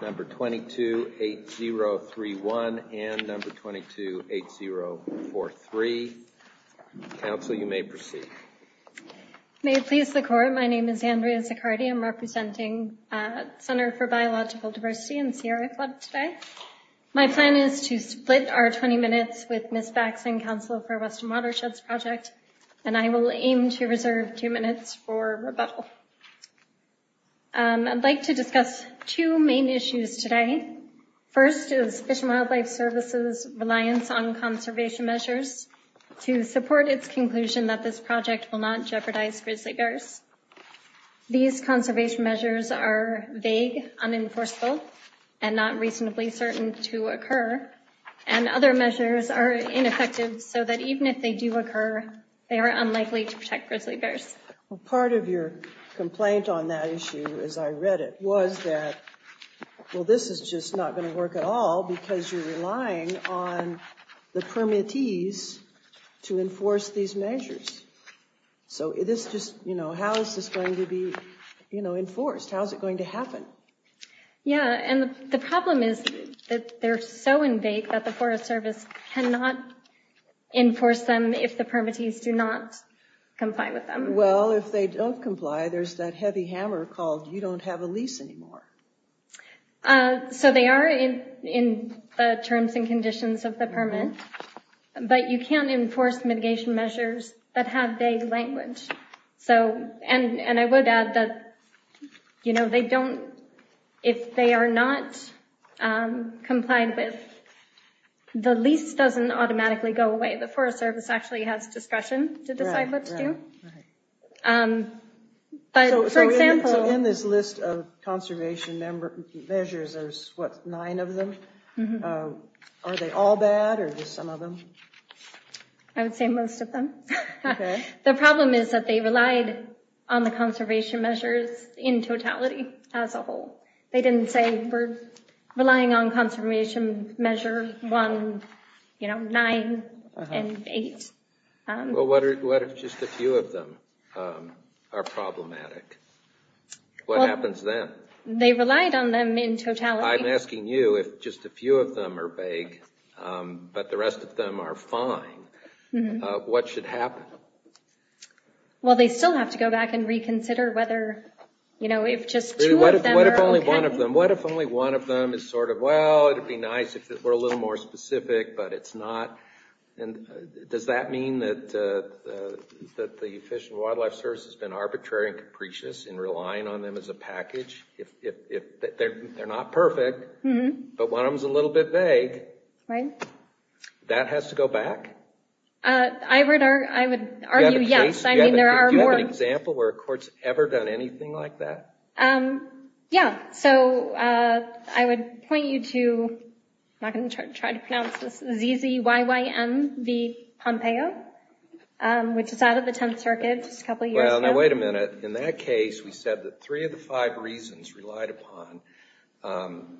Number 228031 and number 228043. Council, you may proceed. May it please the Court, my name is Andrea Zaccardi. I'm representing Center for Biological Diversity in the Sierra Club today. My plan is to split our 20 minutes with Ms. Bax and Council for Western Watersheds Project and I will aim to reserve two minutes for rebuttal. I'd like to discuss two main issues today. First is Fish and Wildlife Service's reliance on conservation measures to support its conclusion that this project will not jeopardize grizzly bears. These conservation measures are vague, unenforceable, and not reasonably certain to occur, and other measures are ineffective so that even if they do occur, they are unlikely to protect grizzly bears. Part of your complaint on that issue as I read it was that, well this is just not going to work at all because you're relying on the permittees to enforce these measures. So how is this going to be enforced? How is it going to happen? Yeah, and the problem is that they're so in vague that the Forest Service cannot enforce them if the permittees do not comply with them. Well, if they don't comply, there's that heavy hammer called, you don't have a lease anymore. So they are in the terms and conditions of the permit, but you can't enforce mitigation measures that have vague language. So, and I would add that, you know, they don't, if they are not complied with, the lease doesn't automatically go away. The Forest Service actually has discretion to decide what to do. So in this list of conservation measures, there's what, nine of them? Are they all bad or just some of them? I would say most of them. The problem is that they relied on the conservation measures in totality as a whole. They didn't say we're relying on conservation measure one, you know, or nine and eight. Well, what if just a few of them are problematic? What happens then? They relied on them in totality. I'm asking you if just a few of them are vague, but the rest of them are fine, what should happen? Well, they still have to go back and reconsider whether, you know, if just two of them are okay. What if only one of them? What if only one of them is sort of, well, it'd be nice if it were a little more specific, but it's not. And does that mean that the Fish and Wildlife Service has been arbitrary and capricious in relying on them as a package? If they're not perfect, but one of them is a little bit vague, that has to go back? I would argue yes. Do you have an example where a court's ever done anything like that? Yeah, so I would point you to, I'm not going to try to pronounce this, ZZYYM v. Pompeo, which is out of the Tenth Circuit just a couple years ago. Well, now wait a minute. In that case, we said that three of the five reasons relied upon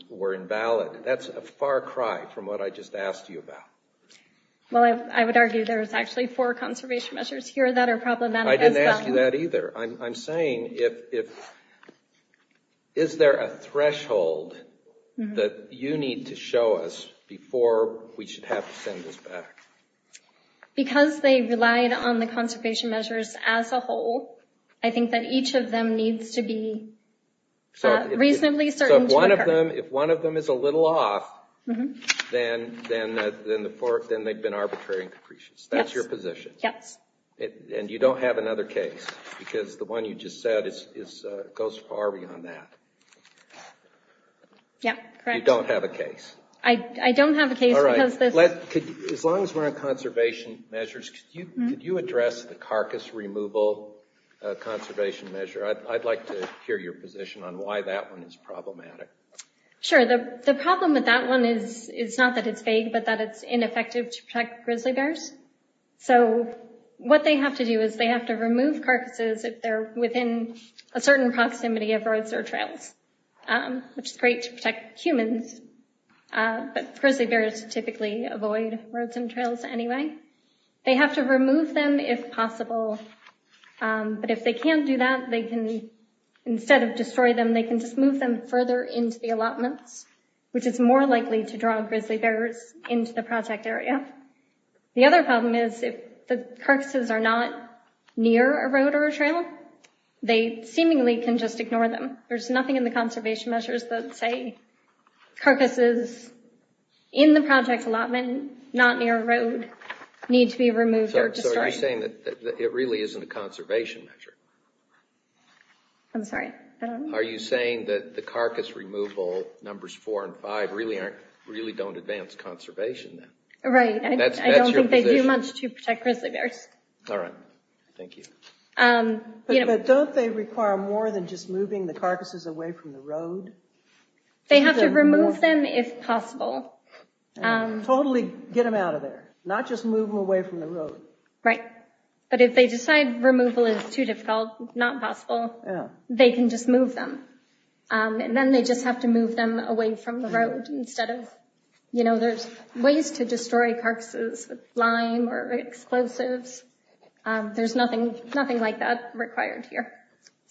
were invalid. That's a far cry from what I just asked you about. Well, I would argue there's actually four conservation measures here that are problematic as well. I would argue that either. I'm saying, is there a threshold that you need to show us before we should have to send this back? Because they relied on the conservation measures as a whole, I think that each of them needs to be reasonably certain to occur. So if one of them is a little off, then they've been arbitrary and capricious. That's your position? Yes. And you don't have another case? Because the one you just said goes far beyond that. Yeah, correct. You don't have a case? I don't have a case because this... All right. As long as we're on conservation measures, could you address the carcass removal conservation measure? I'd like to hear your position on why that one is problematic. Sure. The problem with that one is not that it's vague, but that it's ineffective to protect grizzly bears. So what they have to do is they have to remove carcasses if they're within a certain proximity of roads or trails, which is great to protect humans, but grizzly bears typically avoid roads and trails anyway. They have to remove them if possible. But if they can't do that, they can, instead of destroy them, they can just move them further into the allotments, which is more likely to draw grizzly bears into the project area. The other problem is if the carcasses are not near a road or a trail, they seemingly can just ignore them. There's nothing in the conservation measures that say carcasses in the project allotment, not near a road, need to be removed or destroyed. So are you saying that it really isn't a conservation measure? I'm sorry? Are you saying that the carcass removal numbers four and five really don't advance conservation? Right. I don't think they do much to protect grizzly bears. All right. Thank you. But don't they require more than just moving the carcasses away from the road? They have to remove them if possible. Totally get them out of there. Not just move them away from the road. Right. But if they decide removal is too difficult, not possible, they can just move them. And then they just have to move them away from the road instead of, you know, there's ways to destroy carcasses with lime or explosives. There's nothing like that required here.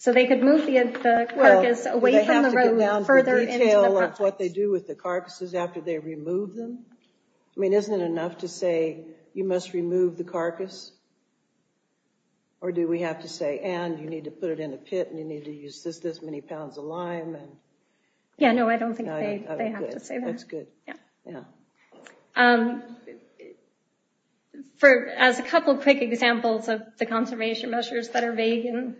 So they could move the carcass away from the road further into the project. Well, would they have to go down to the detail of what they do with the carcasses after they remove them? I mean, isn't it enough to say you must remove the carcass? Or do we have to say, and you need to put it in a pit and you need to use this many pounds of lime? Yeah, no, I don't think they have to say that. That's good. Yeah. As a couple of quick examples of the conservation measures that are vague and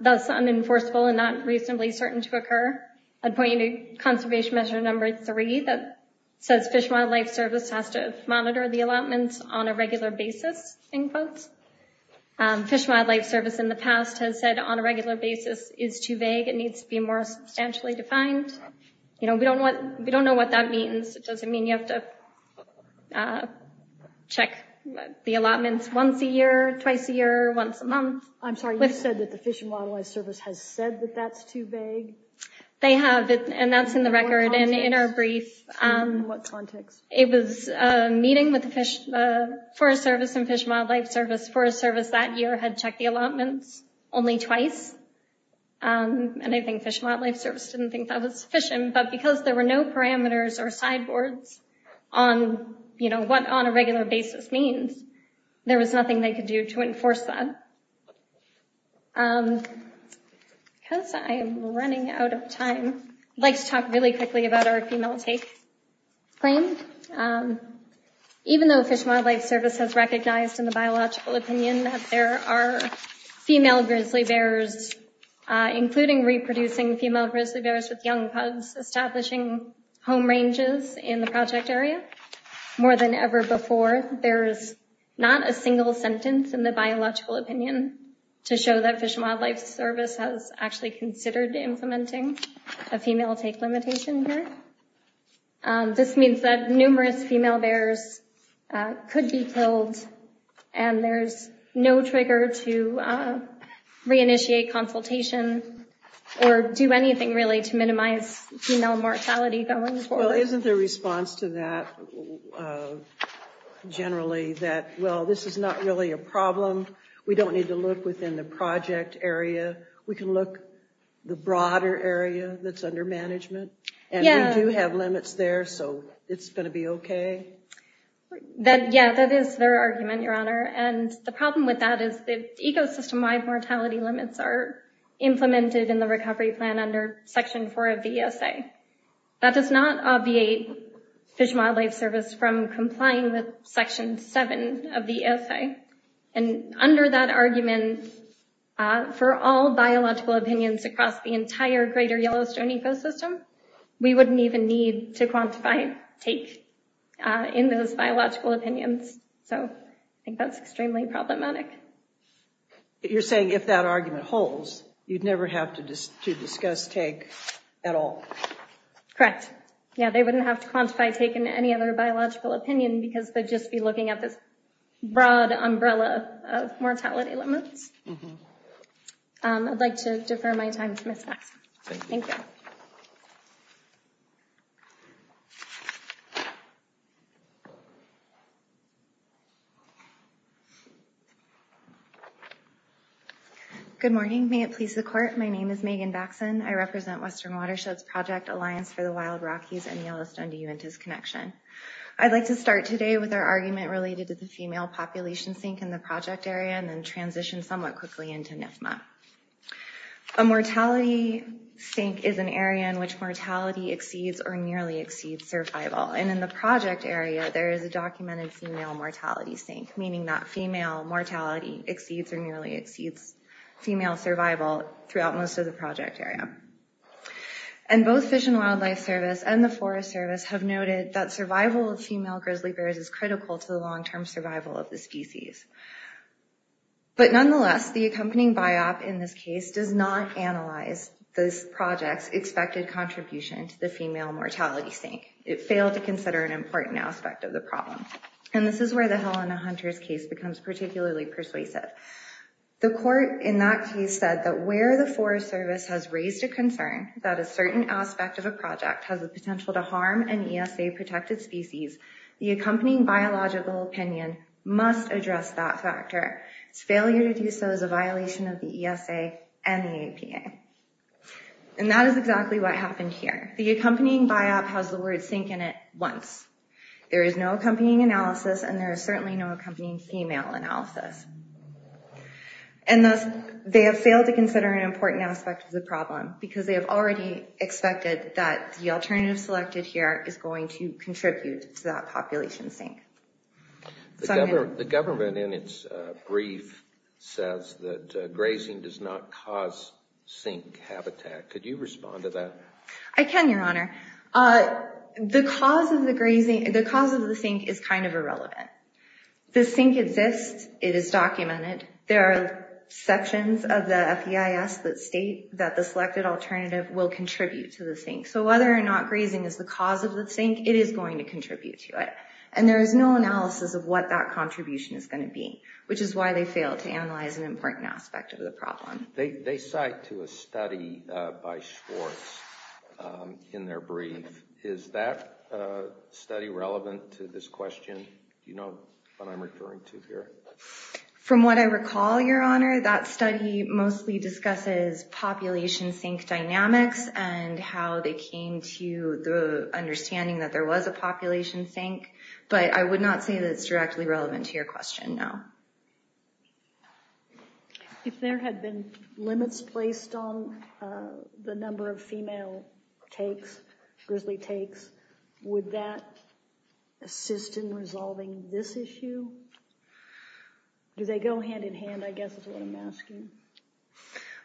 thus unenforceable and not reasonably certain to occur, I'd point you to conservation measure number three that says Fish and Wildlife Service has to monitor the allotments on a regular basis. Fish and Wildlife Service in the past has said on a regular basis is too vague. It needs to be more substantially defined. You know, we don't know what that means. It doesn't mean you have to check the allotments once a year, twice a year, once a month. I'm sorry, you said that the Fish and Wildlife Service has said that that's too vague? They have, and that's in the record and in our brief. In what context? It was a meeting with the Fish and Wildlife Service. Forest Service that year had checked the allotments only twice. And I think Fish and Wildlife Service didn't think that was sufficient. But because there were no parameters or sideboards on, you know, what on a regular basis means, there was nothing they could do to enforce that. Because I am running out of time, I'd like to talk really quickly about our female take claim. Even though Fish and Wildlife Service has recognized in the biological opinion that there are female grizzly bears, including reproducing female grizzly bears with young pups, establishing home ranges in the project area, more than ever before, there's not a single sentence in the biological opinion to show that Fish and Wildlife Service has actually considered implementing a female take limitation here. This means that numerous female bears could be killed, and there's no trigger to re-initiate consultation or do anything really to minimize female mortality going forward. Well, isn't the response to that generally that, well, this is not really a problem. We don't need to look within the project area. We can look the broader area that's under management. And we do have limits there, so it's going to be okay. Yeah, that is their argument, Your Honor. And the problem with that is the ecosystem-wide mortality limits are implemented in the recovery plan under Section 4 of the ESA. That does not obviate Fish and Wildlife Service from complying with Section 7 of the ESA. And under that argument, for all biological opinions across the entire Greater Yellowstone ecosystem, we wouldn't even need to quantify take in those biological opinions. So I think that's extremely problematic. You're saying if that argument holds, you'd never have to discuss take at all? Correct. Yeah, they wouldn't have to quantify take in any other biological opinion because they'd just be looking at this broad umbrella of mortality limits. I'd like to defer my time to Ms. Maxwell. Thank you. Good morning. May it please the Court. My name is Megan Baxan. I represent Western Watersheds Project Alliance for the Wild Rockies and Yellowstone-Diuentas Connection. I'd like to start today with our argument related to the female population sink in the project area and then transition somewhat quickly into NFMA. A mortality sink is an area in which mortality exceeds or nearly exceeds survival. And in the project area, there is a documented female mortality sink, meaning that female mortality exceeds or nearly exceeds female survival throughout most of the project area. And both Fish and Wildlife Service and the Forest Service have noted that survival of female grizzly bears is critical to the long-term survival of the species. But nonetheless, the accompanying BiOp in this case does not analyze this project's expected contribution to the female mortality sink. It failed to consider an important aspect of the problem. And this is where the Helena Hunters case becomes particularly persuasive. The Court in that case said that where the Forest Service has raised a concern that a certain aspect of a project has the potential to harm an ESA-protected species, the accompanying biological opinion must address that factor. Its failure to do so is a violation of the ESA and the APA. And that is exactly what happened here. The accompanying BiOp has the word sink in it once. There is no accompanying analysis, and there is certainly no accompanying female analysis. And thus, they have failed to consider an important aspect of the problem because they have already expected that the alternative selected here is going to contribute to that population sink. The government in its brief says that grazing does not cause sink habitat. I can, Your Honor. The cause of the sink is kind of irrelevant. The sink exists. It is documented. There are sections of the FEIS that state that the selected alternative will contribute to the sink. So whether or not grazing is the cause of the sink, it is going to contribute to it. And there is no analysis of what that contribution is going to be, which is why they failed to analyze an important aspect of the problem. They cite to a study by Schwartz in their brief. Is that study relevant to this question? Do you know what I am referring to here? From what I recall, Your Honor, that study mostly discusses population sink dynamics and how they came to the understanding that there was a population sink. But I would not say that it is directly relevant to your question, no. If there had been limits placed on the number of female takes, grizzly takes, would that assist in resolving this issue? Do they go hand in hand, I guess is what I am asking?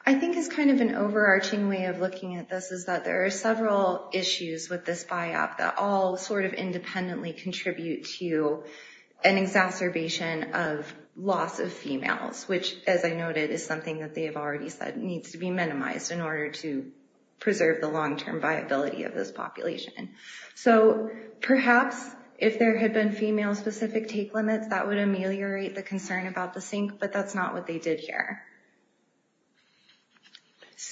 I think it is kind of an overarching way of looking at this, is that there are several issues with this biop that all sort of independently contribute to an exacerbation of loss of females, which, as I noted, is something that they have already said needs to be minimized in order to preserve the long-term viability of this population. So perhaps if there had been female-specific take limits, that would ameliorate the concern about the sink, but that is not what they did here.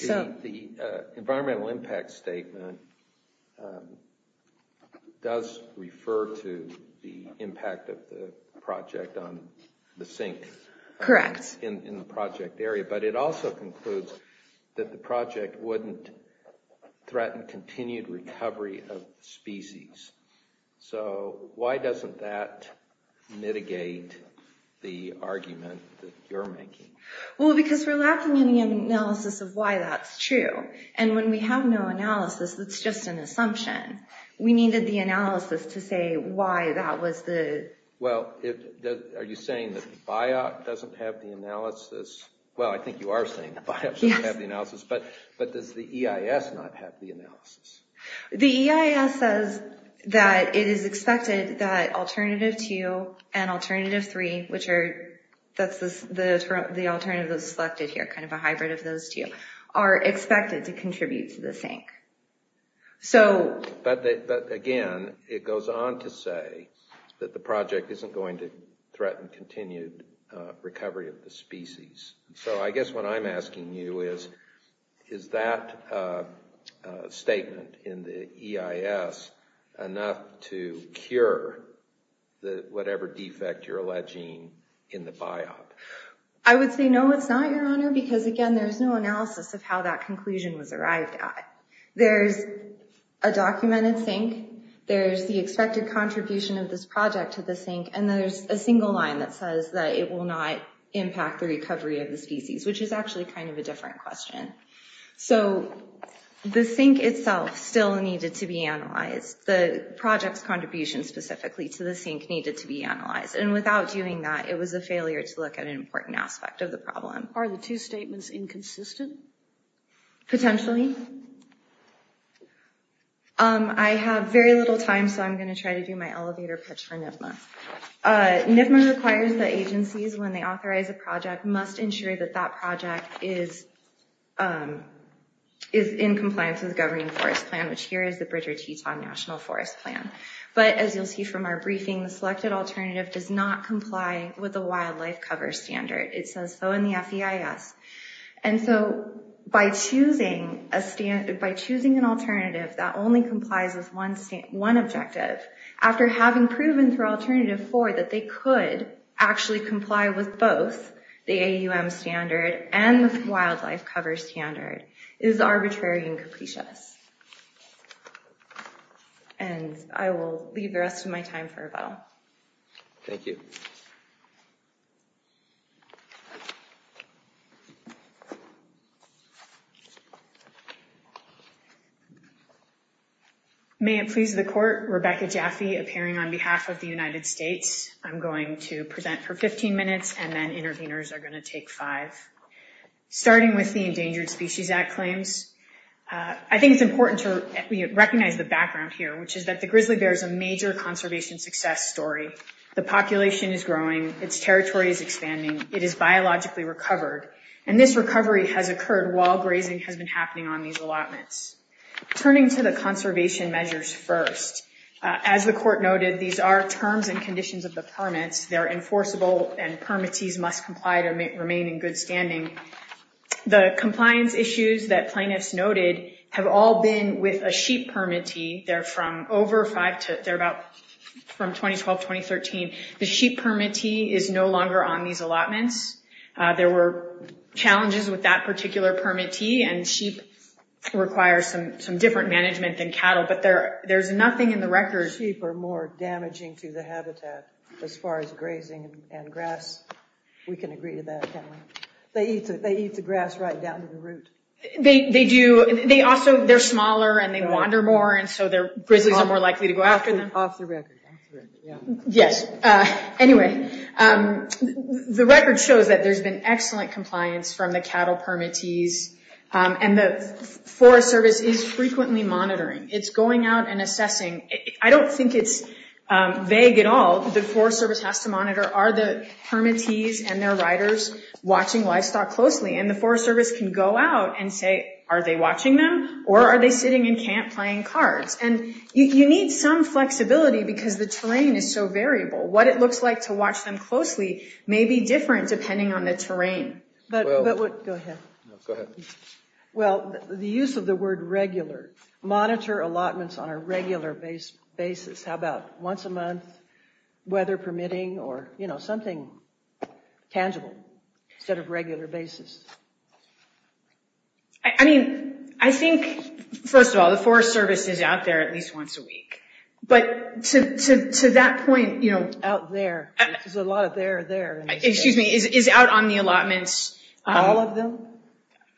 The environmental impact statement does refer to the impact of the project on the sink. Correct. In the project area, but it also concludes that the project wouldn't threaten continued recovery of species. So why doesn't that mitigate the argument that you are making? Well, because we are lacking any analysis of why that is true, and when we have no analysis, it is just an assumption. We needed the analysis to say why that was the... Well, are you saying that the biop doesn't have the analysis? Well, I think you are saying the biop doesn't have the analysis, but does the EIS not have the analysis? The EIS says that it is expected that alternative two and alternative three, that is the alternative that is selected here, kind of a hybrid of those two, are expected to contribute to the sink. But again, it goes on to say that the project isn't going to threaten continued recovery of the species. So I guess what I am asking you is, is that statement in the EIS enough to cure whatever defect you are alleging in the biop? I would say no, it is not, Your Honor, because again, there is no analysis of how that conclusion was arrived at. There is a documented sink. There is the expected contribution of this project to the sink, and there is a single line that says that it will not impact the recovery of the species, which is actually kind of a different question. So the sink itself still needed to be analyzed. The project's contribution specifically to the sink needed to be analyzed. And without doing that, it was a failure to look at an important aspect of the problem. Are the two statements inconsistent? Potentially. I have very little time, so I am going to try to do my elevator pitch for NIFMA. NIFMA requires that agencies, when they authorize a project, must ensure that that project is in compliance with the Governing Forest Plan, which here is the Bridger-Teton National Forest Plan. But as you will see from our briefing, the selected alternative does not comply with the Wildlife Cover Standard. It says so in the FEIS. And so by choosing an alternative that only complies with one objective, after having proven through Alternative 4 that they could actually comply with both, the AUM standard and the Wildlife Cover Standard is arbitrary and capricious. And I will leave the rest of my time for rebuttal. Thank you. May it please the Court, Rebecca Jaffe, appearing on behalf of the United States. I'm going to present for 15 minutes, and then interveners are going to take five. Starting with the Endangered Species Act claims, I think it's important to recognize the background here, which is that the grizzly bear is a major conservation success story. The population is growing. Its territory is expanding. It is biologically recovered. And this recovery has occurred while grazing has been happening on these allotments. Turning to the conservation measures first, as the Court noted, these are terms and conditions of the permits. They're enforceable, and permittees must comply to remain in good standing. The compliance issues that plaintiffs noted have all been with a sheep permittee. They're from over five to – they're about from 2012-2013. The sheep permittee is no longer on these allotments. There were challenges with that particular permittee, and sheep require some different management than cattle. But there's nothing in the records –– damaging to the habitat as far as grazing and grass. We can agree to that, can't we? They eat the grass right down to the root. They do. They also – they're smaller, and they wander more, and so grizzlies are more likely to go after them. Off the record. Yes. Anyway, the record shows that there's been excellent compliance from the cattle permittees, and the Forest Service is frequently monitoring. It's going out and assessing. I don't think it's vague at all. The Forest Service has to monitor, are the permittees and their riders watching livestock closely? And the Forest Service can go out and say, are they watching them or are they sitting in camp playing cards? And you need some flexibility because the terrain is so variable. What it looks like to watch them closely may be different depending on the terrain. But what – go ahead. Go ahead. Well, the use of the word regular. Monitor allotments on a regular basis. How about once a month, weather permitting, or something tangible instead of regular basis? I mean, I think, first of all, the Forest Service is out there at least once a week. But to that point – Out there. There's a lot of there there. Excuse me. Is out on the allotments –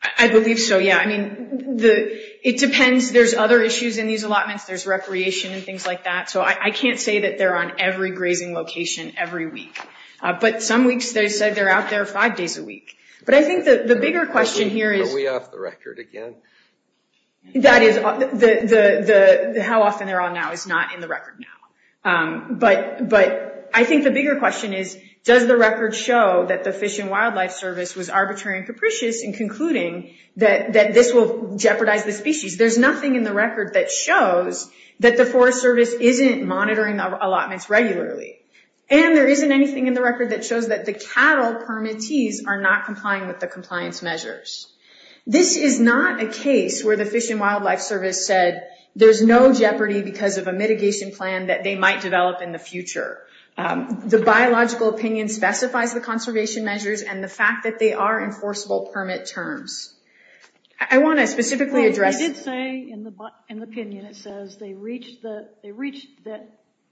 I believe so, yeah. I mean, it depends. There's other issues in these allotments. There's recreation and things like that. So I can't say that they're on every grazing location every week. But some weeks they said they're out there five days a week. But I think the bigger question here is – Are we off the record again? That is – how often they're on now is not in the record now. But I think the bigger question is, does the record show that the Fish and Wildlife Service was arbitrary and capricious in concluding that this will jeopardize the species? There's nothing in the record that shows that the Forest Service isn't monitoring the allotments regularly. And there isn't anything in the record that shows that the cattle permittees are not complying with the compliance measures. This is not a case where the Fish and Wildlife Service said there's no jeopardy because of a mitigation plan that they might develop in the future. The biological opinion specifies the conservation measures, and the fact that they are enforceable permit terms. I want to specifically address – I did say in the opinion it says they reached the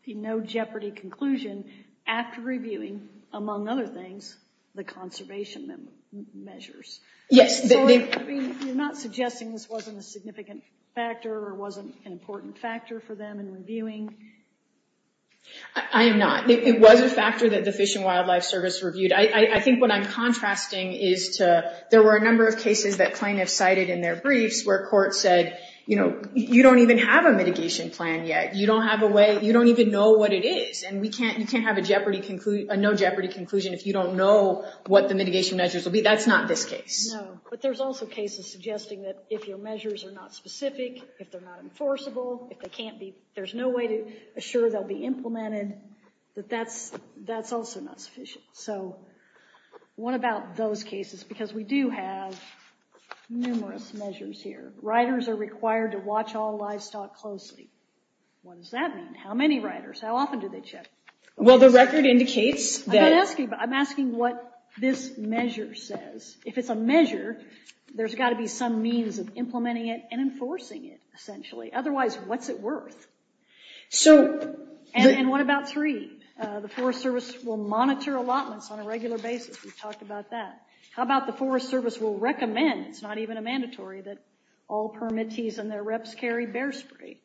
no-jeopardy conclusion after reviewing, among other things, the conservation measures. Yes. So you're not suggesting this wasn't a significant factor or wasn't an important factor for them in reviewing? I am not. It was a factor that the Fish and Wildlife Service reviewed. I think what I'm contrasting is to – there were a number of cases that plaintiffs cited in their briefs where courts said, you know, you don't even have a mitigation plan yet. You don't have a way – you don't even know what it is, and you can't have a no-jeopardy conclusion if you don't know what the mitigation measures will be. That's not this case. No, but there's also cases suggesting that if your measures are not specific, if they're not enforceable, if they can't be – there's no way to assure they'll be implemented, that that's also not sufficient. So what about those cases? Because we do have numerous measures here. Riders are required to watch all livestock closely. What does that mean? How many riders? How often do they check? Well, the record indicates that – I'm asking what this measure says. If it's a measure, there's got to be some means of implementing it and enforcing it, essentially. Otherwise, what's it worth? So – And what about three? The Forest Service will monitor allotments on a regular basis. We've talked about that. How about the Forest Service will recommend – it's not even a mandatory – that all permittees and their reps carry bear spray?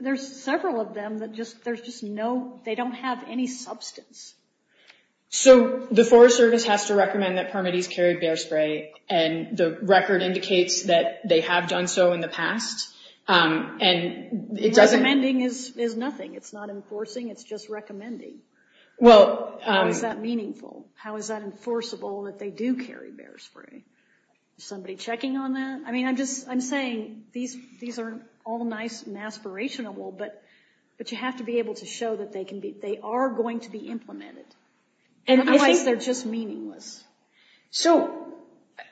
There's several of them that just – there's just no – they don't have any substance. So the Forest Service has to recommend that permittees carry bear spray, and the record indicates that they have done so in the past, and it doesn't – it's not enforcing, it's just recommending. Well – How is that meaningful? How is that enforceable that they do carry bear spray? Is somebody checking on that? I mean, I'm just – I'm saying these are all nice and aspirational, but you have to be able to show that they are going to be implemented. Otherwise, they're just meaningless. So,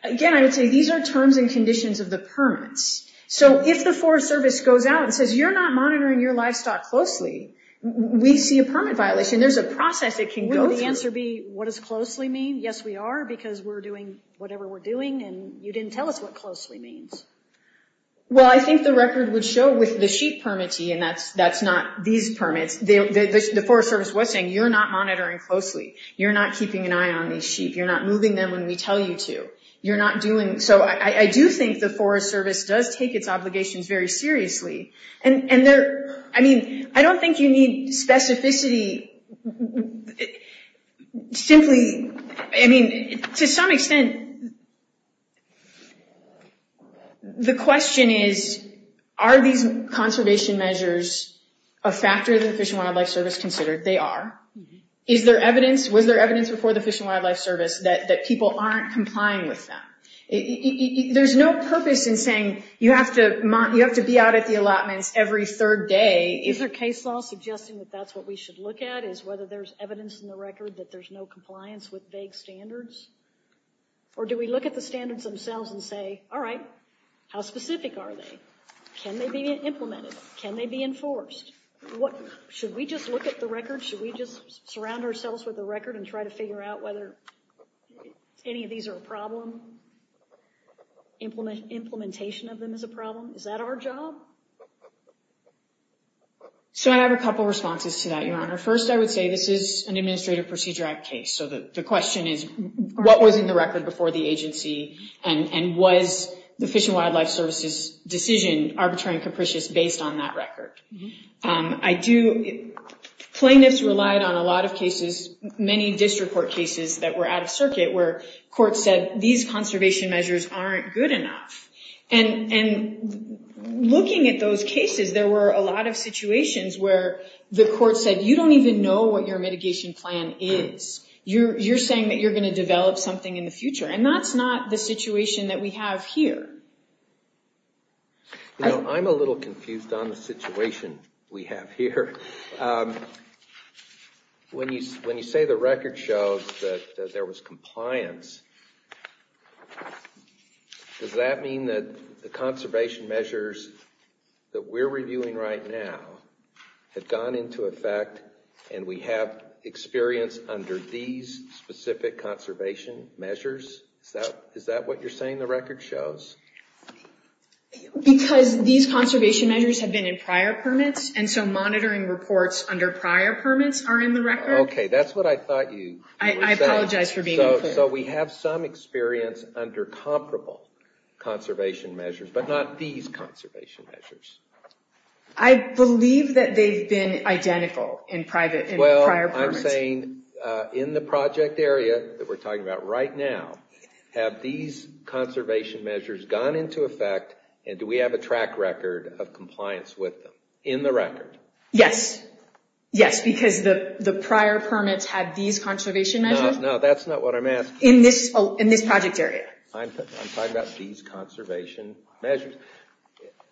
again, I would say these are terms and conditions of the permits. So if the Forest Service goes out and says, you're not monitoring your livestock closely, we see a permit violation. There's a process it can go through. Wouldn't the answer be, what does closely mean? Yes, we are, because we're doing whatever we're doing, and you didn't tell us what closely means. Well, I think the record would show with the sheep permittee, and that's not these permits. The Forest Service was saying, you're not monitoring closely. You're not keeping an eye on these sheep. You're not moving them when we tell you to. You're not doing – And so I do think the Forest Service does take its obligations very seriously. And there – I mean, I don't think you need specificity. Simply – I mean, to some extent, the question is, are these conservation measures a factor that the Fish and Wildlife Service considered? They are. Is there evidence – was there evidence before the Fish and Wildlife Service that people aren't complying with them? There's no purpose in saying you have to be out at the allotments every third day. Is there case law suggesting that that's what we should look at, is whether there's evidence in the record that there's no compliance with vague standards? Or do we look at the standards themselves and say, all right, how specific are they? Can they be implemented? Can they be enforced? Should we just look at the records? Should we just surround ourselves with a record and try to figure out whether any of these are a problem? Implementation of them is a problem? Is that our job? So I have a couple of responses to that, Your Honor. First, I would say this is an Administrative Procedure Act case. So the question is, what was in the record before the agency, and was the Fish and Wildlife Service's decision arbitrary and capricious based on that record? Plaintiffs relied on a lot of cases, many district court cases that were out of circuit, where courts said these conservation measures aren't good enough. And looking at those cases, there were a lot of situations where the court said, you don't even know what your mitigation plan is. You're saying that you're going to develop something in the future, and that's not the situation that we have here. You know, I'm a little confused on the situation we have here. When you say the record shows that there was compliance, does that mean that the conservation measures that we're reviewing right now have gone into effect and we have experience under these specific conservation measures? Is that what you're saying the record shows? Because these conservation measures have been in prior permits, and so monitoring reports under prior permits are in the record. Okay, that's what I thought you were saying. I apologize for being unclear. So we have some experience under comparable conservation measures, but not these conservation measures. I believe that they've been identical in prior permits. You're saying in the project area that we're talking about right now, have these conservation measures gone into effect, and do we have a track record of compliance with them in the record? Yes. Yes, because the prior permits had these conservation measures. No, that's not what I'm asking. In this project area. I'm talking about these conservation measures.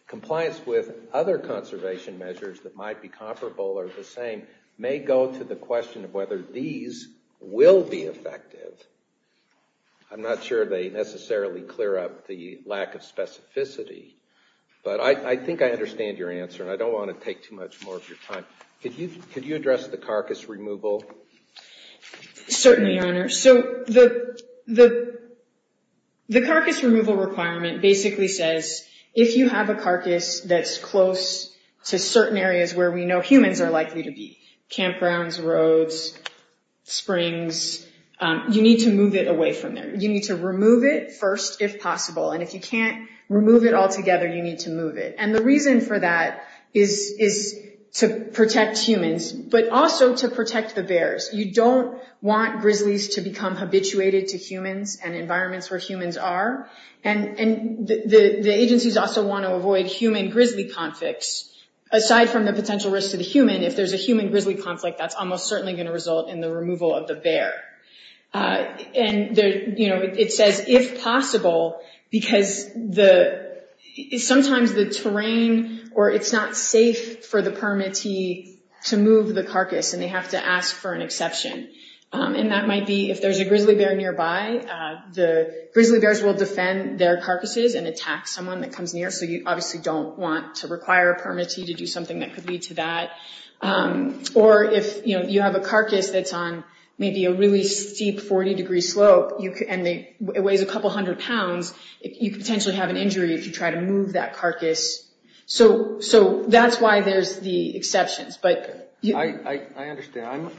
Compliance with other conservation measures that might be comparable or the same may go to the question of whether these will be effective. I'm not sure they necessarily clear up the lack of specificity, but I think I understand your answer, and I don't want to take too much more of your time. Could you address the carcass removal? Certainly, Your Honor. So the carcass removal requirement basically says, if you have a carcass that's close to certain areas where we know humans are likely to be, campgrounds, roads, springs, you need to move it away from there. You need to remove it first if possible, and if you can't remove it altogether, you need to move it. And the reason for that is to protect humans, but also to protect the bears. You don't want grizzlies to become habituated to humans and environments where humans are. The agencies also want to avoid human-grizzly conflicts. Aside from the potential risk to the human, if there's a human-grizzly conflict, that's almost certainly going to result in the removal of the bear. It says, if possible, because sometimes the terrain or it's not safe for the permittee to move the carcass, and they have to ask for an exception. And that might be, if there's a grizzly bear nearby, the grizzly bears will defend their carcasses and attack someone that comes near, so you obviously don't want to require a permittee to do something that could lead to that. Or if you have a carcass that's on maybe a really steep 40-degree slope and it weighs a couple hundred pounds, you could potentially have an injury if you try to move that carcass. So that's why there's the exceptions. I understand.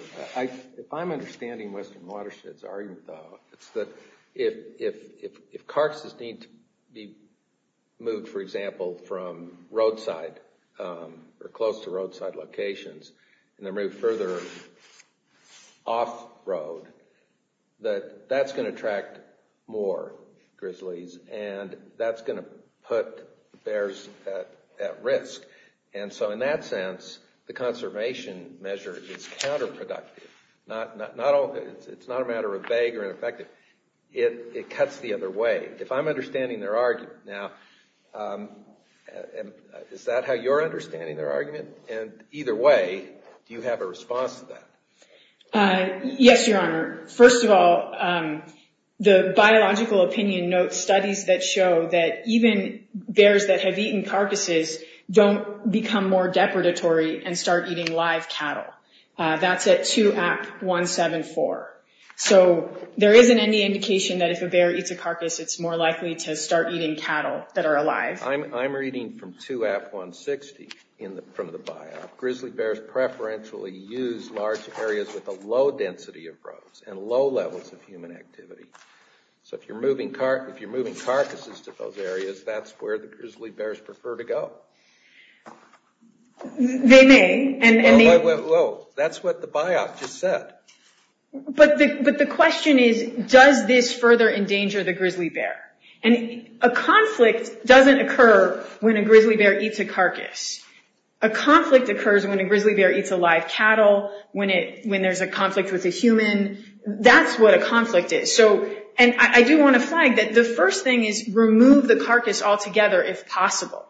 If I'm understanding Western Watershed's argument, though, it's that if carcasses need to be moved, for example, from roadside or close to roadside locations and then moved further off-road, that that's going to attract more grizzlies, and that's going to put bears at risk. And so in that sense, the conservation measure is counterproductive. It's not a matter of vague or ineffective. It cuts the other way. If I'm understanding their argument now, is that how you're understanding their argument? And either way, do you have a response to that? Yes, Your Honor. First of all, the biological opinion notes studies that show that even bears that have eaten carcasses don't become more depredatory and start eating live cattle. That's at 2-AP-174. So there isn't any indication that if a bear eats a carcass, it's more likely to start eating cattle that are alive. I'm reading from 2-AP-160 from the biop. Grizzly bears preferentially use large areas with a low density of roads and low levels of human activity. So if you're moving carcasses to those areas, that's where the grizzly bears prefer to go. They may. Well, that's what the biop just said. But the question is, does this further endanger the grizzly bear? And a conflict doesn't occur when a grizzly bear eats a carcass. A conflict occurs when a grizzly bear eats a live cattle, when there's a conflict with a human. And that's what a conflict is. And I do want to flag that the first thing is remove the carcass altogether if possible.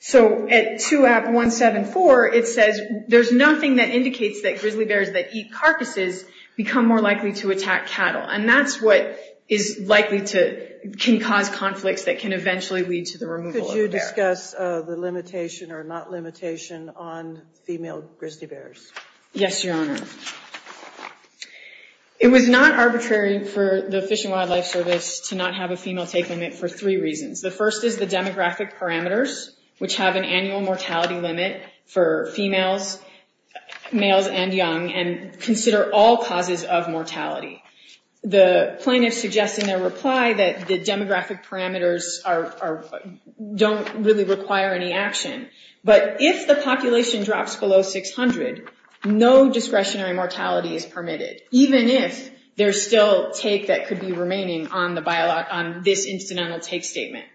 So at 2-AP-174, it says there's nothing that indicates that grizzly bears that eat carcasses become more likely to attack cattle. And that's what can cause conflicts that can eventually lead to the removal of a bear. Could you discuss the limitation or not limitation on female grizzly bears? Yes, Your Honor. It was not arbitrary for the Fish and Wildlife Service to not have a female take limit for three reasons. The first is the demographic parameters, which have an annual mortality limit for females, males, and young, and consider all causes of mortality. The plaintiffs suggest in their reply that the demographic parameters don't really require any action. But if the population drops below 600, no discretionary mortality is permitted. Even if there's still take that could be remaining on this incidental take statement.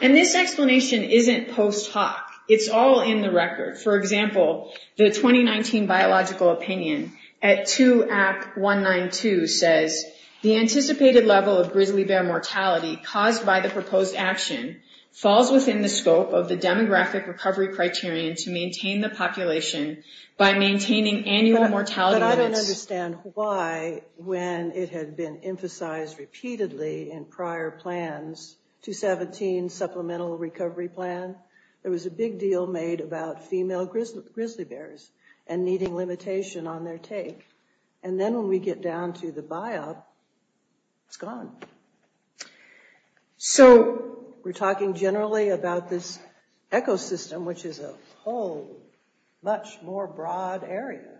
And this explanation isn't post hoc. It's all in the record. For example, the 2019 Biological Opinion at 2-AP-192 says the anticipated level of grizzly bear mortality caused by the proposed action falls within the scope of the demographic recovery criterion to maintain the population by maintaining annual mortality limits. But I don't understand why when it had been emphasized repeatedly in prior plans, 217 Supplemental Recovery Plan, there was a big deal made about female grizzly bears and needing limitation on their take. And then when we get down to the biop, it's gone. So we're talking generally about this ecosystem, which is a whole much more broad area.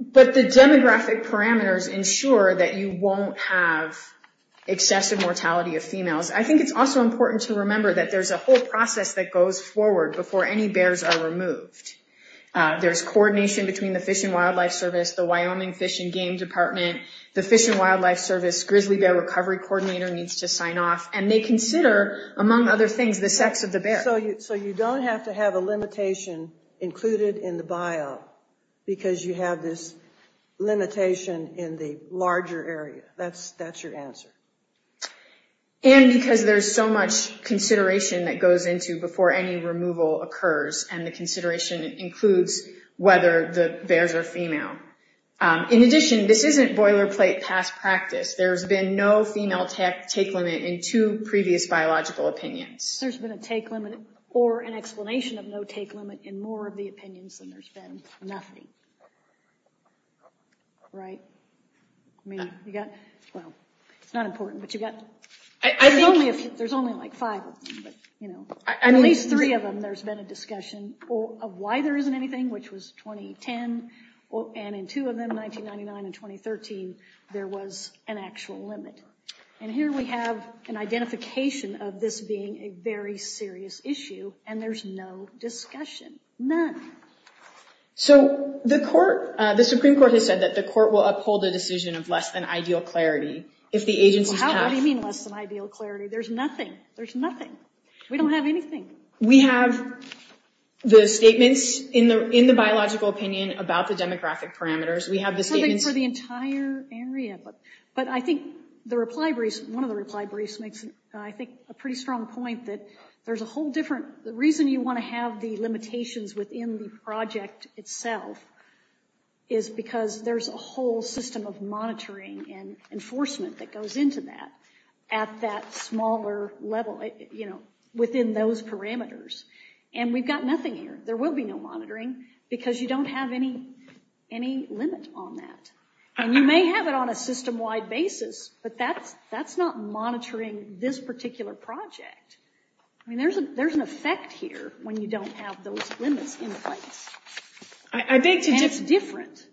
But the demographic parameters ensure that you won't have excessive mortality of females. I think it's also important to remember that there's a whole process that goes forward before any bears are removed. There's coordination between the Fish and Wildlife Service, the Wyoming Fish and Game Department, the Fish and Wildlife Service, Grizzly Bear Recovery Coordinator needs to sign off. And they consider, among other things, the sex of the bear. So you don't have to have a limitation included in the biop because you have this limitation in the larger area. That's your answer. And because there's so much consideration that goes into before any removal occurs, and the consideration includes whether the bears are female. In addition, this isn't boilerplate past practice. There's been no female take limit in two previous biological opinions. There's been a take limit or an explanation of no take limit in more of the opinions than there's been nothing. Right? I mean, you've got, well, it's not important, but you've got, there's only like five of them. At least three of them there's been a discussion of why there isn't anything, which was 2010. And in two of them, 1999 and 2013, there was an actual limit. And here we have an identification of this being a very serious issue. And there's no discussion. None. So the court, the Supreme Court has said that the court will uphold a decision of less than ideal clarity. Well, what do you mean less than ideal clarity? There's nothing. There's nothing. We don't have anything. We have the statements in the biological opinion about the demographic parameters. We have the statements. Something for the entire area. But I think the reply briefs, one of the reply briefs makes, I think, a pretty strong point that there's a whole different, the reason you want to have the limitations within the project itself is because there's a whole system of monitoring and enforcement that goes into that at that smaller level, you know, within those parameters. And we've got nothing here. There will be no monitoring because you don't have any limit on that. And you may have it on a system-wide basis, but that's not monitoring this particular project. I mean, there's an effect here when you don't have those limits in place. And it's different.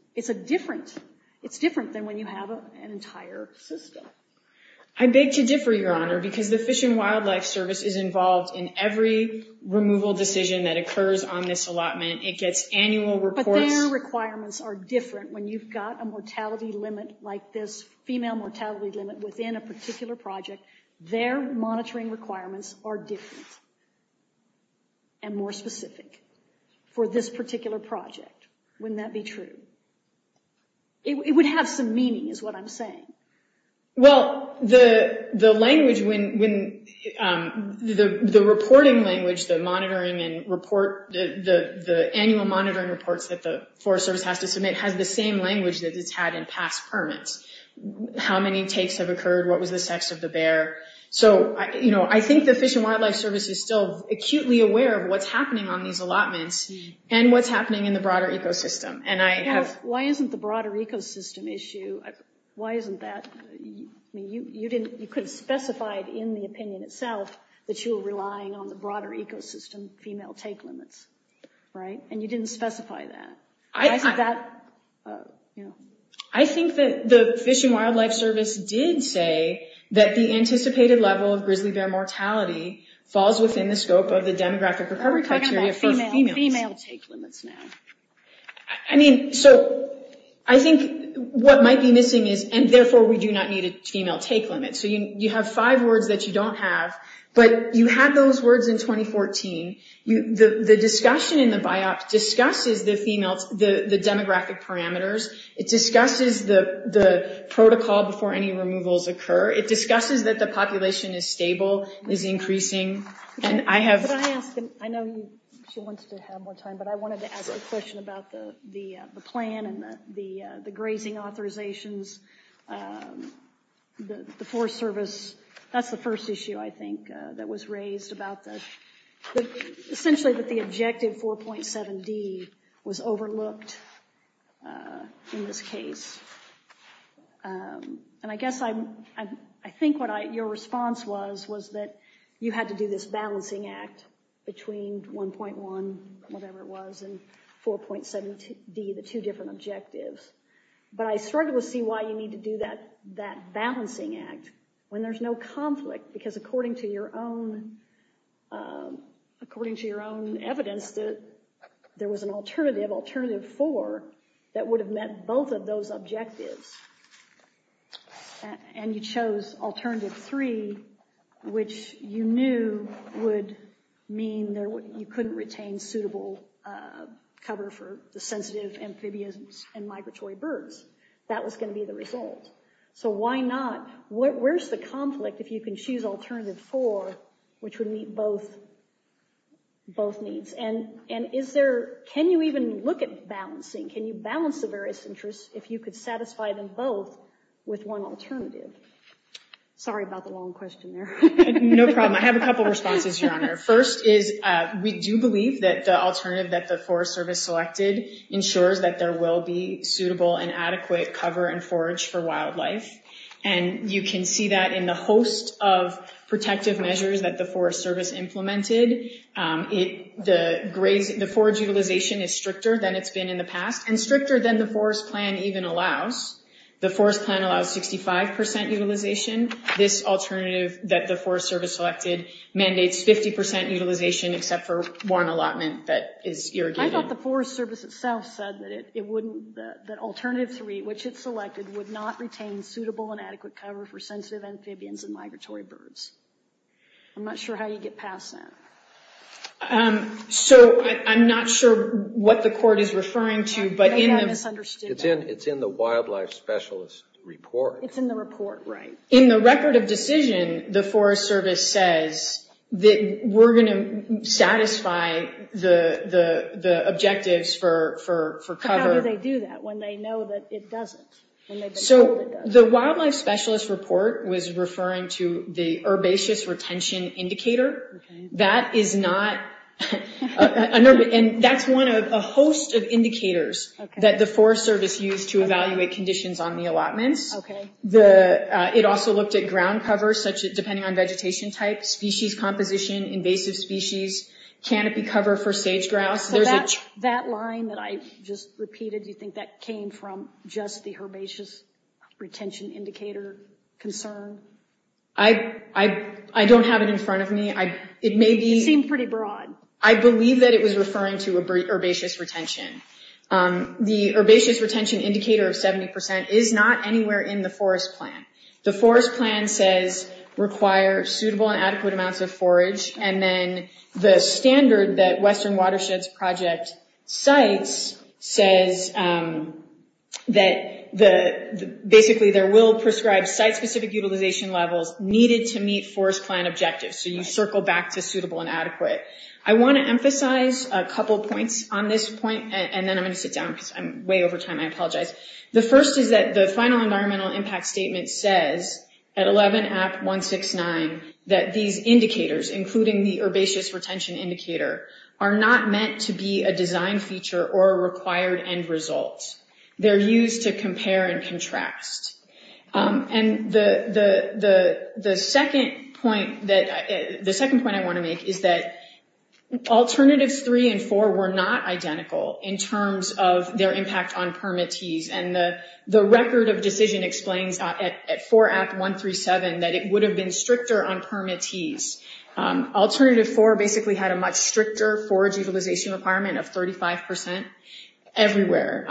It's different than when you have an entire system. I beg to differ, Your Honor, because the Fish and Wildlife Service is involved in every removal decision that occurs on this allotment. It gets annual reports. But their requirements are different. When you've got a mortality limit like this, female mortality limit within a particular project, their monitoring requirements are different and more specific for this particular project. Wouldn't that be true? It would have some meaning is what I'm saying. Well, the reporting language, the annual monitoring reports that the Forest Service has to submit, has the same language that it's had in past permits. How many takes have occurred? What was the sex of the bear? So, you know, I think the Fish and Wildlife Service is still acutely aware of what's happening on these allotments and what's happening in the broader ecosystem. Why isn't the broader ecosystem issue, why isn't that, you could have specified in the opinion itself that you were relying on the broader ecosystem female take limits, right? And you didn't specify that. I think that the Fish and Wildlife Service did say that the anticipated level of grizzly bear mortality falls within the scope of the demographic recovery criteria for females. Female take limits now. I mean, so I think what might be missing is, and therefore we do not need a female take limit. So you have five words that you don't have, but you had those words in 2014. The discussion in the BIOPS discusses the demographic parameters. It discusses the protocol before any removals occur. It discusses that the population is stable, is increasing. I know she wants to have more time, but I wanted to ask a question about the plan and the grazing authorizations. The Forest Service, that's the first issue I think that was raised about the, essentially that the objective 4.7D was overlooked in this case. And I guess I think what your response was, was that you had to do this balancing act between 1.1, whatever it was, and 4.7D, the two different objectives. But I struggle to see why you need to do that balancing act when there's no conflict, because according to your own evidence, there was an alternative, alternative 4, that would have met both of those objectives. And you chose alternative 3, which you knew would mean you couldn't retain suitable cover for the sensitive amphibians and migratory birds. That was going to be the result. So why not, where's the conflict if you can choose alternative 4, which would meet both needs? And is there, can you even look at balancing, can you balance the various interests if you could satisfy them both with one alternative? Sorry about the long question there. No problem. I have a couple of responses, Your Honor. First is, we do believe that the alternative that the Forest Service selected ensures that there will be suitable and adequate cover and forage for wildlife. And you can see that in the host of protective measures that the Forest Service implemented. The forage utilization is stricter than it's been in the past, and stricter than the Forest Plan even allows. The Forest Plan allows 65% utilization. This alternative that the Forest Service selected mandates 50% utilization, except for one allotment that is irrigated. I thought the Forest Service itself said that it wouldn't, that alternative 3, which it selected, would not retain suitable and adequate cover for sensitive amphibians and migratory birds. I'm not sure how you get past that. So, I'm not sure what the court is referring to, but in the... I misunderstood that. It's in the wildlife specialist report. It's in the report, right. In the record of decision, the Forest Service says that we're going to satisfy the objectives for cover. But how do they do that when they know that it doesn't? So, the wildlife specialist report was referring to the herbaceous retention indicator. That is not... And that's one of a host of indicators that the Forest Service used to evaluate conditions on the allotments. It also looked at ground cover, depending on vegetation type, species composition, invasive species, canopy cover for sage grouse. That line that I just repeated, do you think that came from just the herbaceous retention indicator concern? I don't have it in front of me. It may be... It seemed pretty broad. I believe that it was referring to herbaceous retention. The herbaceous retention indicator of 70% is not anywhere in the forest plan. The forest plan says, require suitable and adequate amounts of forage, and then the standard that Western Watersheds Project cites says that, basically, there will prescribe site-specific utilization levels needed to meet forest plan objectives. So, you circle back to suitable and adequate. I want to emphasize a couple points on this point, and then I'm going to sit down because I'm way over time. I apologize. The first is that the final environmental impact statement says, at 11-AP-169, that these indicators, including the herbaceous retention indicator, are not meant to be a design feature or a required end result. They're used to compare and contrast. And the second point I want to make is that Alternatives 3 and 4 were not identical in terms of their impact on permittees, and the record of decision explains at 4-AP-137 that it would have been stricter on permittees. Alternative 4 basically had a much stricter forage utilization requirement of 35% everywhere.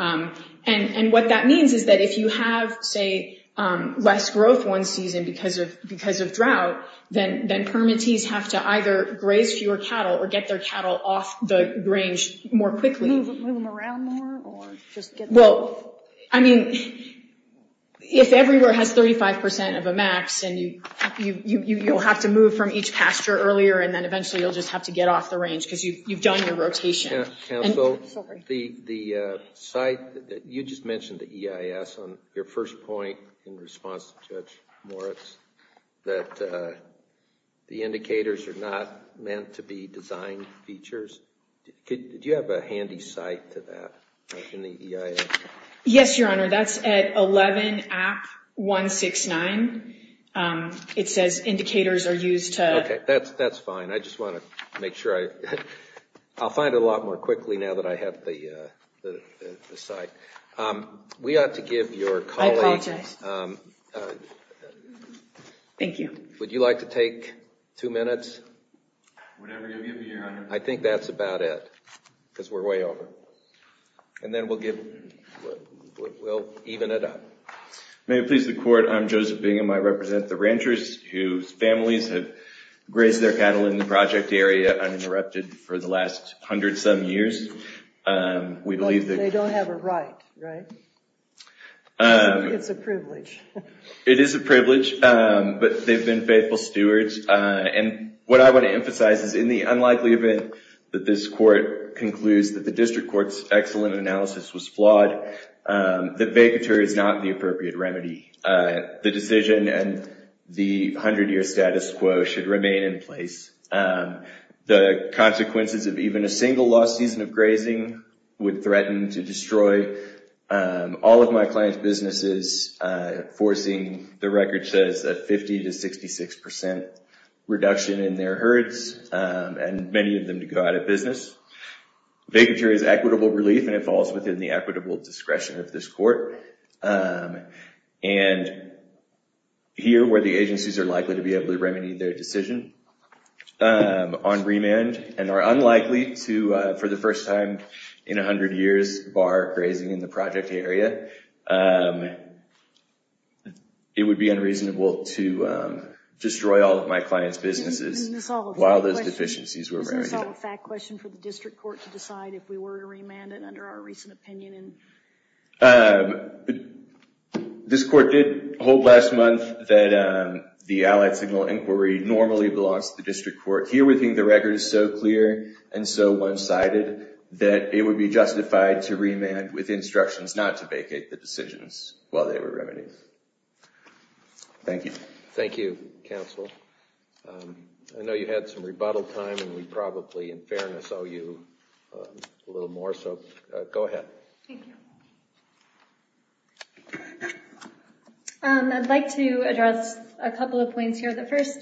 And what that means is that if you have, say, less growth one season because of drought, then permittees have to either graze fewer cattle or get their cattle off the range more quickly. Move them around more? Well, I mean, if everywhere has 35% of a max, and you'll have to move from each pasture earlier, and then eventually you'll just have to get off the range because you've done your rotation. Counsel, the site that you just mentioned, the EIS, on your first point in response to Judge Moritz, that the indicators are not meant to be design features, do you have a handy site to that in the EIS? Yes, Your Honor, that's at 11-AP-169. It says indicators are used to... Okay, that's fine. I just want to make sure I... I'll find it a lot more quickly now that I have the site. We ought to give your colleague... I apologize. Thank you. Would you like to take two minutes? Whatever you give me, Your Honor. I think that's about it because we're way over. And then we'll even it up. May it please the Court, I'm Joseph Bingham. I represent the ranchers whose families have grazed their cattle in the project area uninterrupted for the last hundred-some years. They don't have a right, right? It's a privilege. It is a privilege, but they've been faithful stewards. And what I want to emphasize is in the unlikely event that this Court concludes that the district court's excellent analysis was flawed, the vacatur is not the appropriate remedy. The decision and the hundred-year status quo should remain in place. The consequences of even a single lost season of grazing would threaten to destroy all of my clients' businesses, forcing, the record says, a 50% to 66% reduction in their herds and many of them to go out of business. Vacatur is equitable relief, and it falls within the equitable discretion of this Court. And here, where the agencies are likely to be able to remedy their decision on remand and are unlikely to, for the first time in a hundred years, bar grazing in the project area, it would be unreasonable to destroy all of my clients' businesses while those deficiencies were remedied. Isn't this all a fact question for the district court to decide if we were to remand it under our recent opinion? This Court did hold last month that the Allied Signal Inquiry normally belongs to the district court. Here, we think the record is so clear and so one-sided that it would be justified to remand with instructions not to vacate the decisions while they were remedied. Thank you. Thank you, counsel. I know you had some rebuttal time, and we probably, in fairness, owe you a little more, so go ahead. Thank you. I'd like to address a couple of points here. The first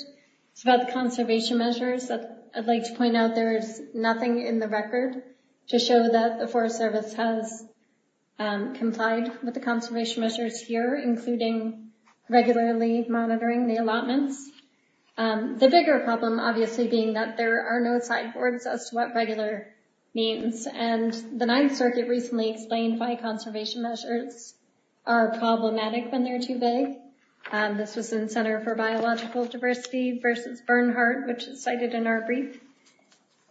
is about the conservation measures. I'd like to point out there is nothing in the record to show that the Forest Service has complied with the conservation measures here, including regularly monitoring the allotments. The bigger problem, obviously, being that there are no sideboards as to what regular means. And the Ninth Circuit recently explained why conservation measures are problematic when they're too vague. This was in Center for Biological Diversity v. Bernhardt, which is cited in our brief.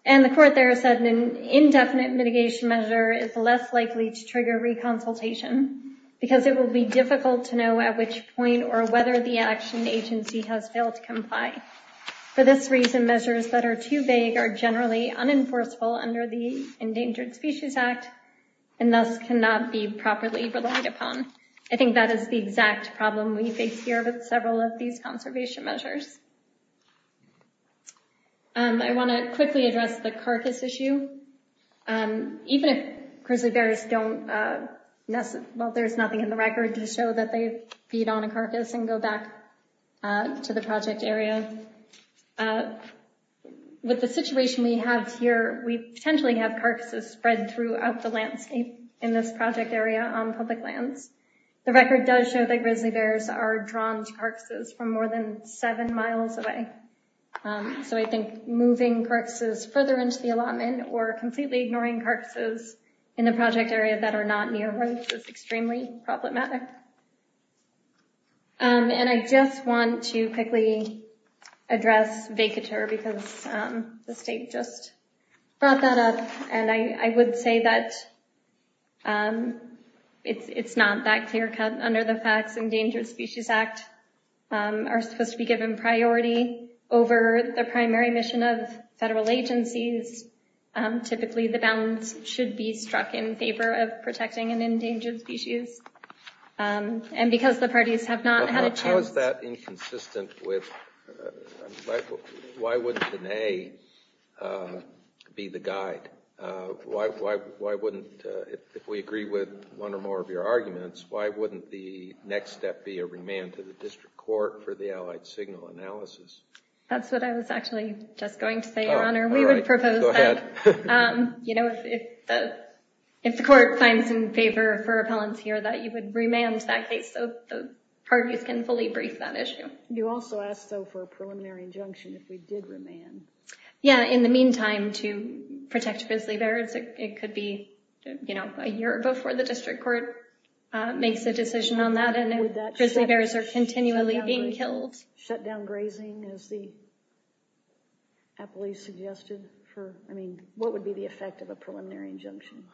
And the court there said an indefinite mitigation measure is less likely to trigger reconsultation because it will be difficult to know at which point or whether the action agency has failed to comply. For this reason, measures that are too vague are generally unenforceable under the Endangered Species Act and thus cannot be properly relied upon. I think that is the exact problem we face here with several of these conservation measures. I want to quickly address the carcass issue. Even if grizzly bears don't necessarily... Well, there's nothing in the record to show that they feed on a carcass and go back to the project area. With the situation we have here, we potentially have carcasses spread throughout the landscape in this project area on public lands. The record does show that grizzly bears are drawn to carcasses from more than seven miles away. I think moving carcasses further into the allotment or completely ignoring carcasses in the project area that are not near roads is extremely problematic. I just want to quickly address vacatur because the state just brought that up. I would say that it's not that clear-cut under the facts. The laws of the Endangered Species Act are supposed to be given priority over the primary mission of federal agencies. Typically, the balance should be struck in favor of protecting an endangered species. And because the parties have not had a chance... How is that inconsistent with... Why wouldn't an A be the guide? If we agree with one or more of your arguments, why wouldn't the next step be a remand to the district court for the allied signal analysis? That's what I was actually just going to say, Your Honor. We would propose that if the court finds in favor for repellents here, that you would remand that case so the parties can fully brief that issue. You also asked, though, for a preliminary injunction if we did remand. Yeah, in the meantime, to protect grizzly bears. It could be a year before the district court makes a decision on that and grizzly bears are continually being killed. Would that shut down grazing, as the appellee suggested? I mean, what would be the effect of a preliminary injunction?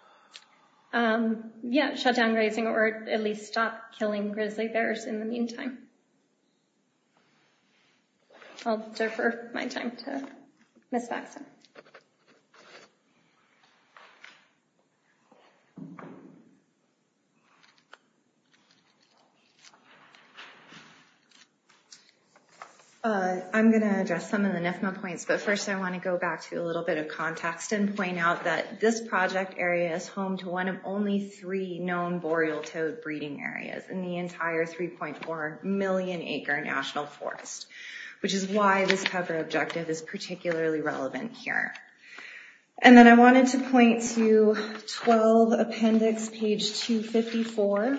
Yeah, shut down grazing or at least stop killing grizzly bears in the meantime. I'll defer my time to Ms. Baxton. I'm going to address some of the NIFMA points, but first I want to go back to a little bit of context and point out that this project area is home to one of only three known boreal toad breeding areas in the entire 3.4 map. That's a million acre national forest, which is why this cover objective is particularly relevant here. And then I wanted to point to 12 Appendix page 254,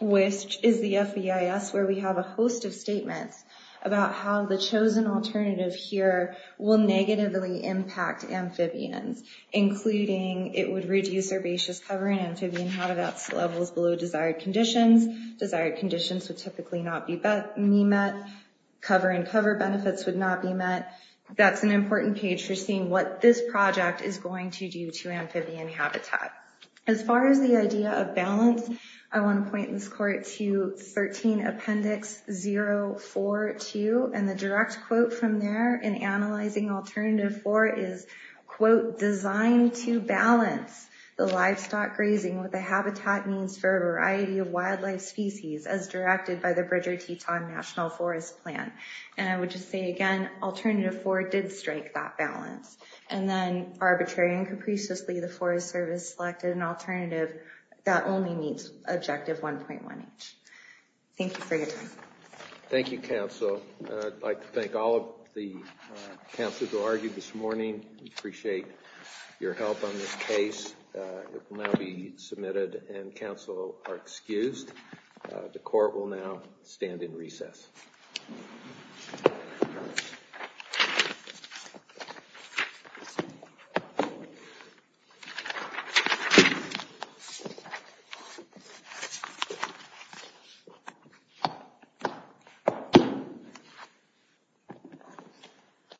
which is the FBIS, where we have a host of statements about how the chosen alternative here will negatively impact amphibians, including it would reduce herbaceous cover and amphibian habitat levels below desired conditions. Desired conditions would typically not be met, cover and cover benefits would not be met. That's an important page for seeing what this project is going to do to amphibian habitat. As far as the idea of balance, I want to point this court to 13 Appendix 042 and the direct quote from there in analyzing Alternative 4 is, quote, designed to balance the livestock grazing with the habitat needs for a variety of wildlife species as directed by the Bridger-Teton National Forest Plan. And I would just say again, Alternative 4 did strike that balance. And then arbitrary and capriciously, the Forest Service selected an alternative that only meets Objective 1.1H. Thank you for your time. Thank you, counsel. I'd like to thank all of the counsels who argued this morning. We appreciate your help on this case. It will now be submitted and counsel are excused. The court will now stand in recess. Thank you.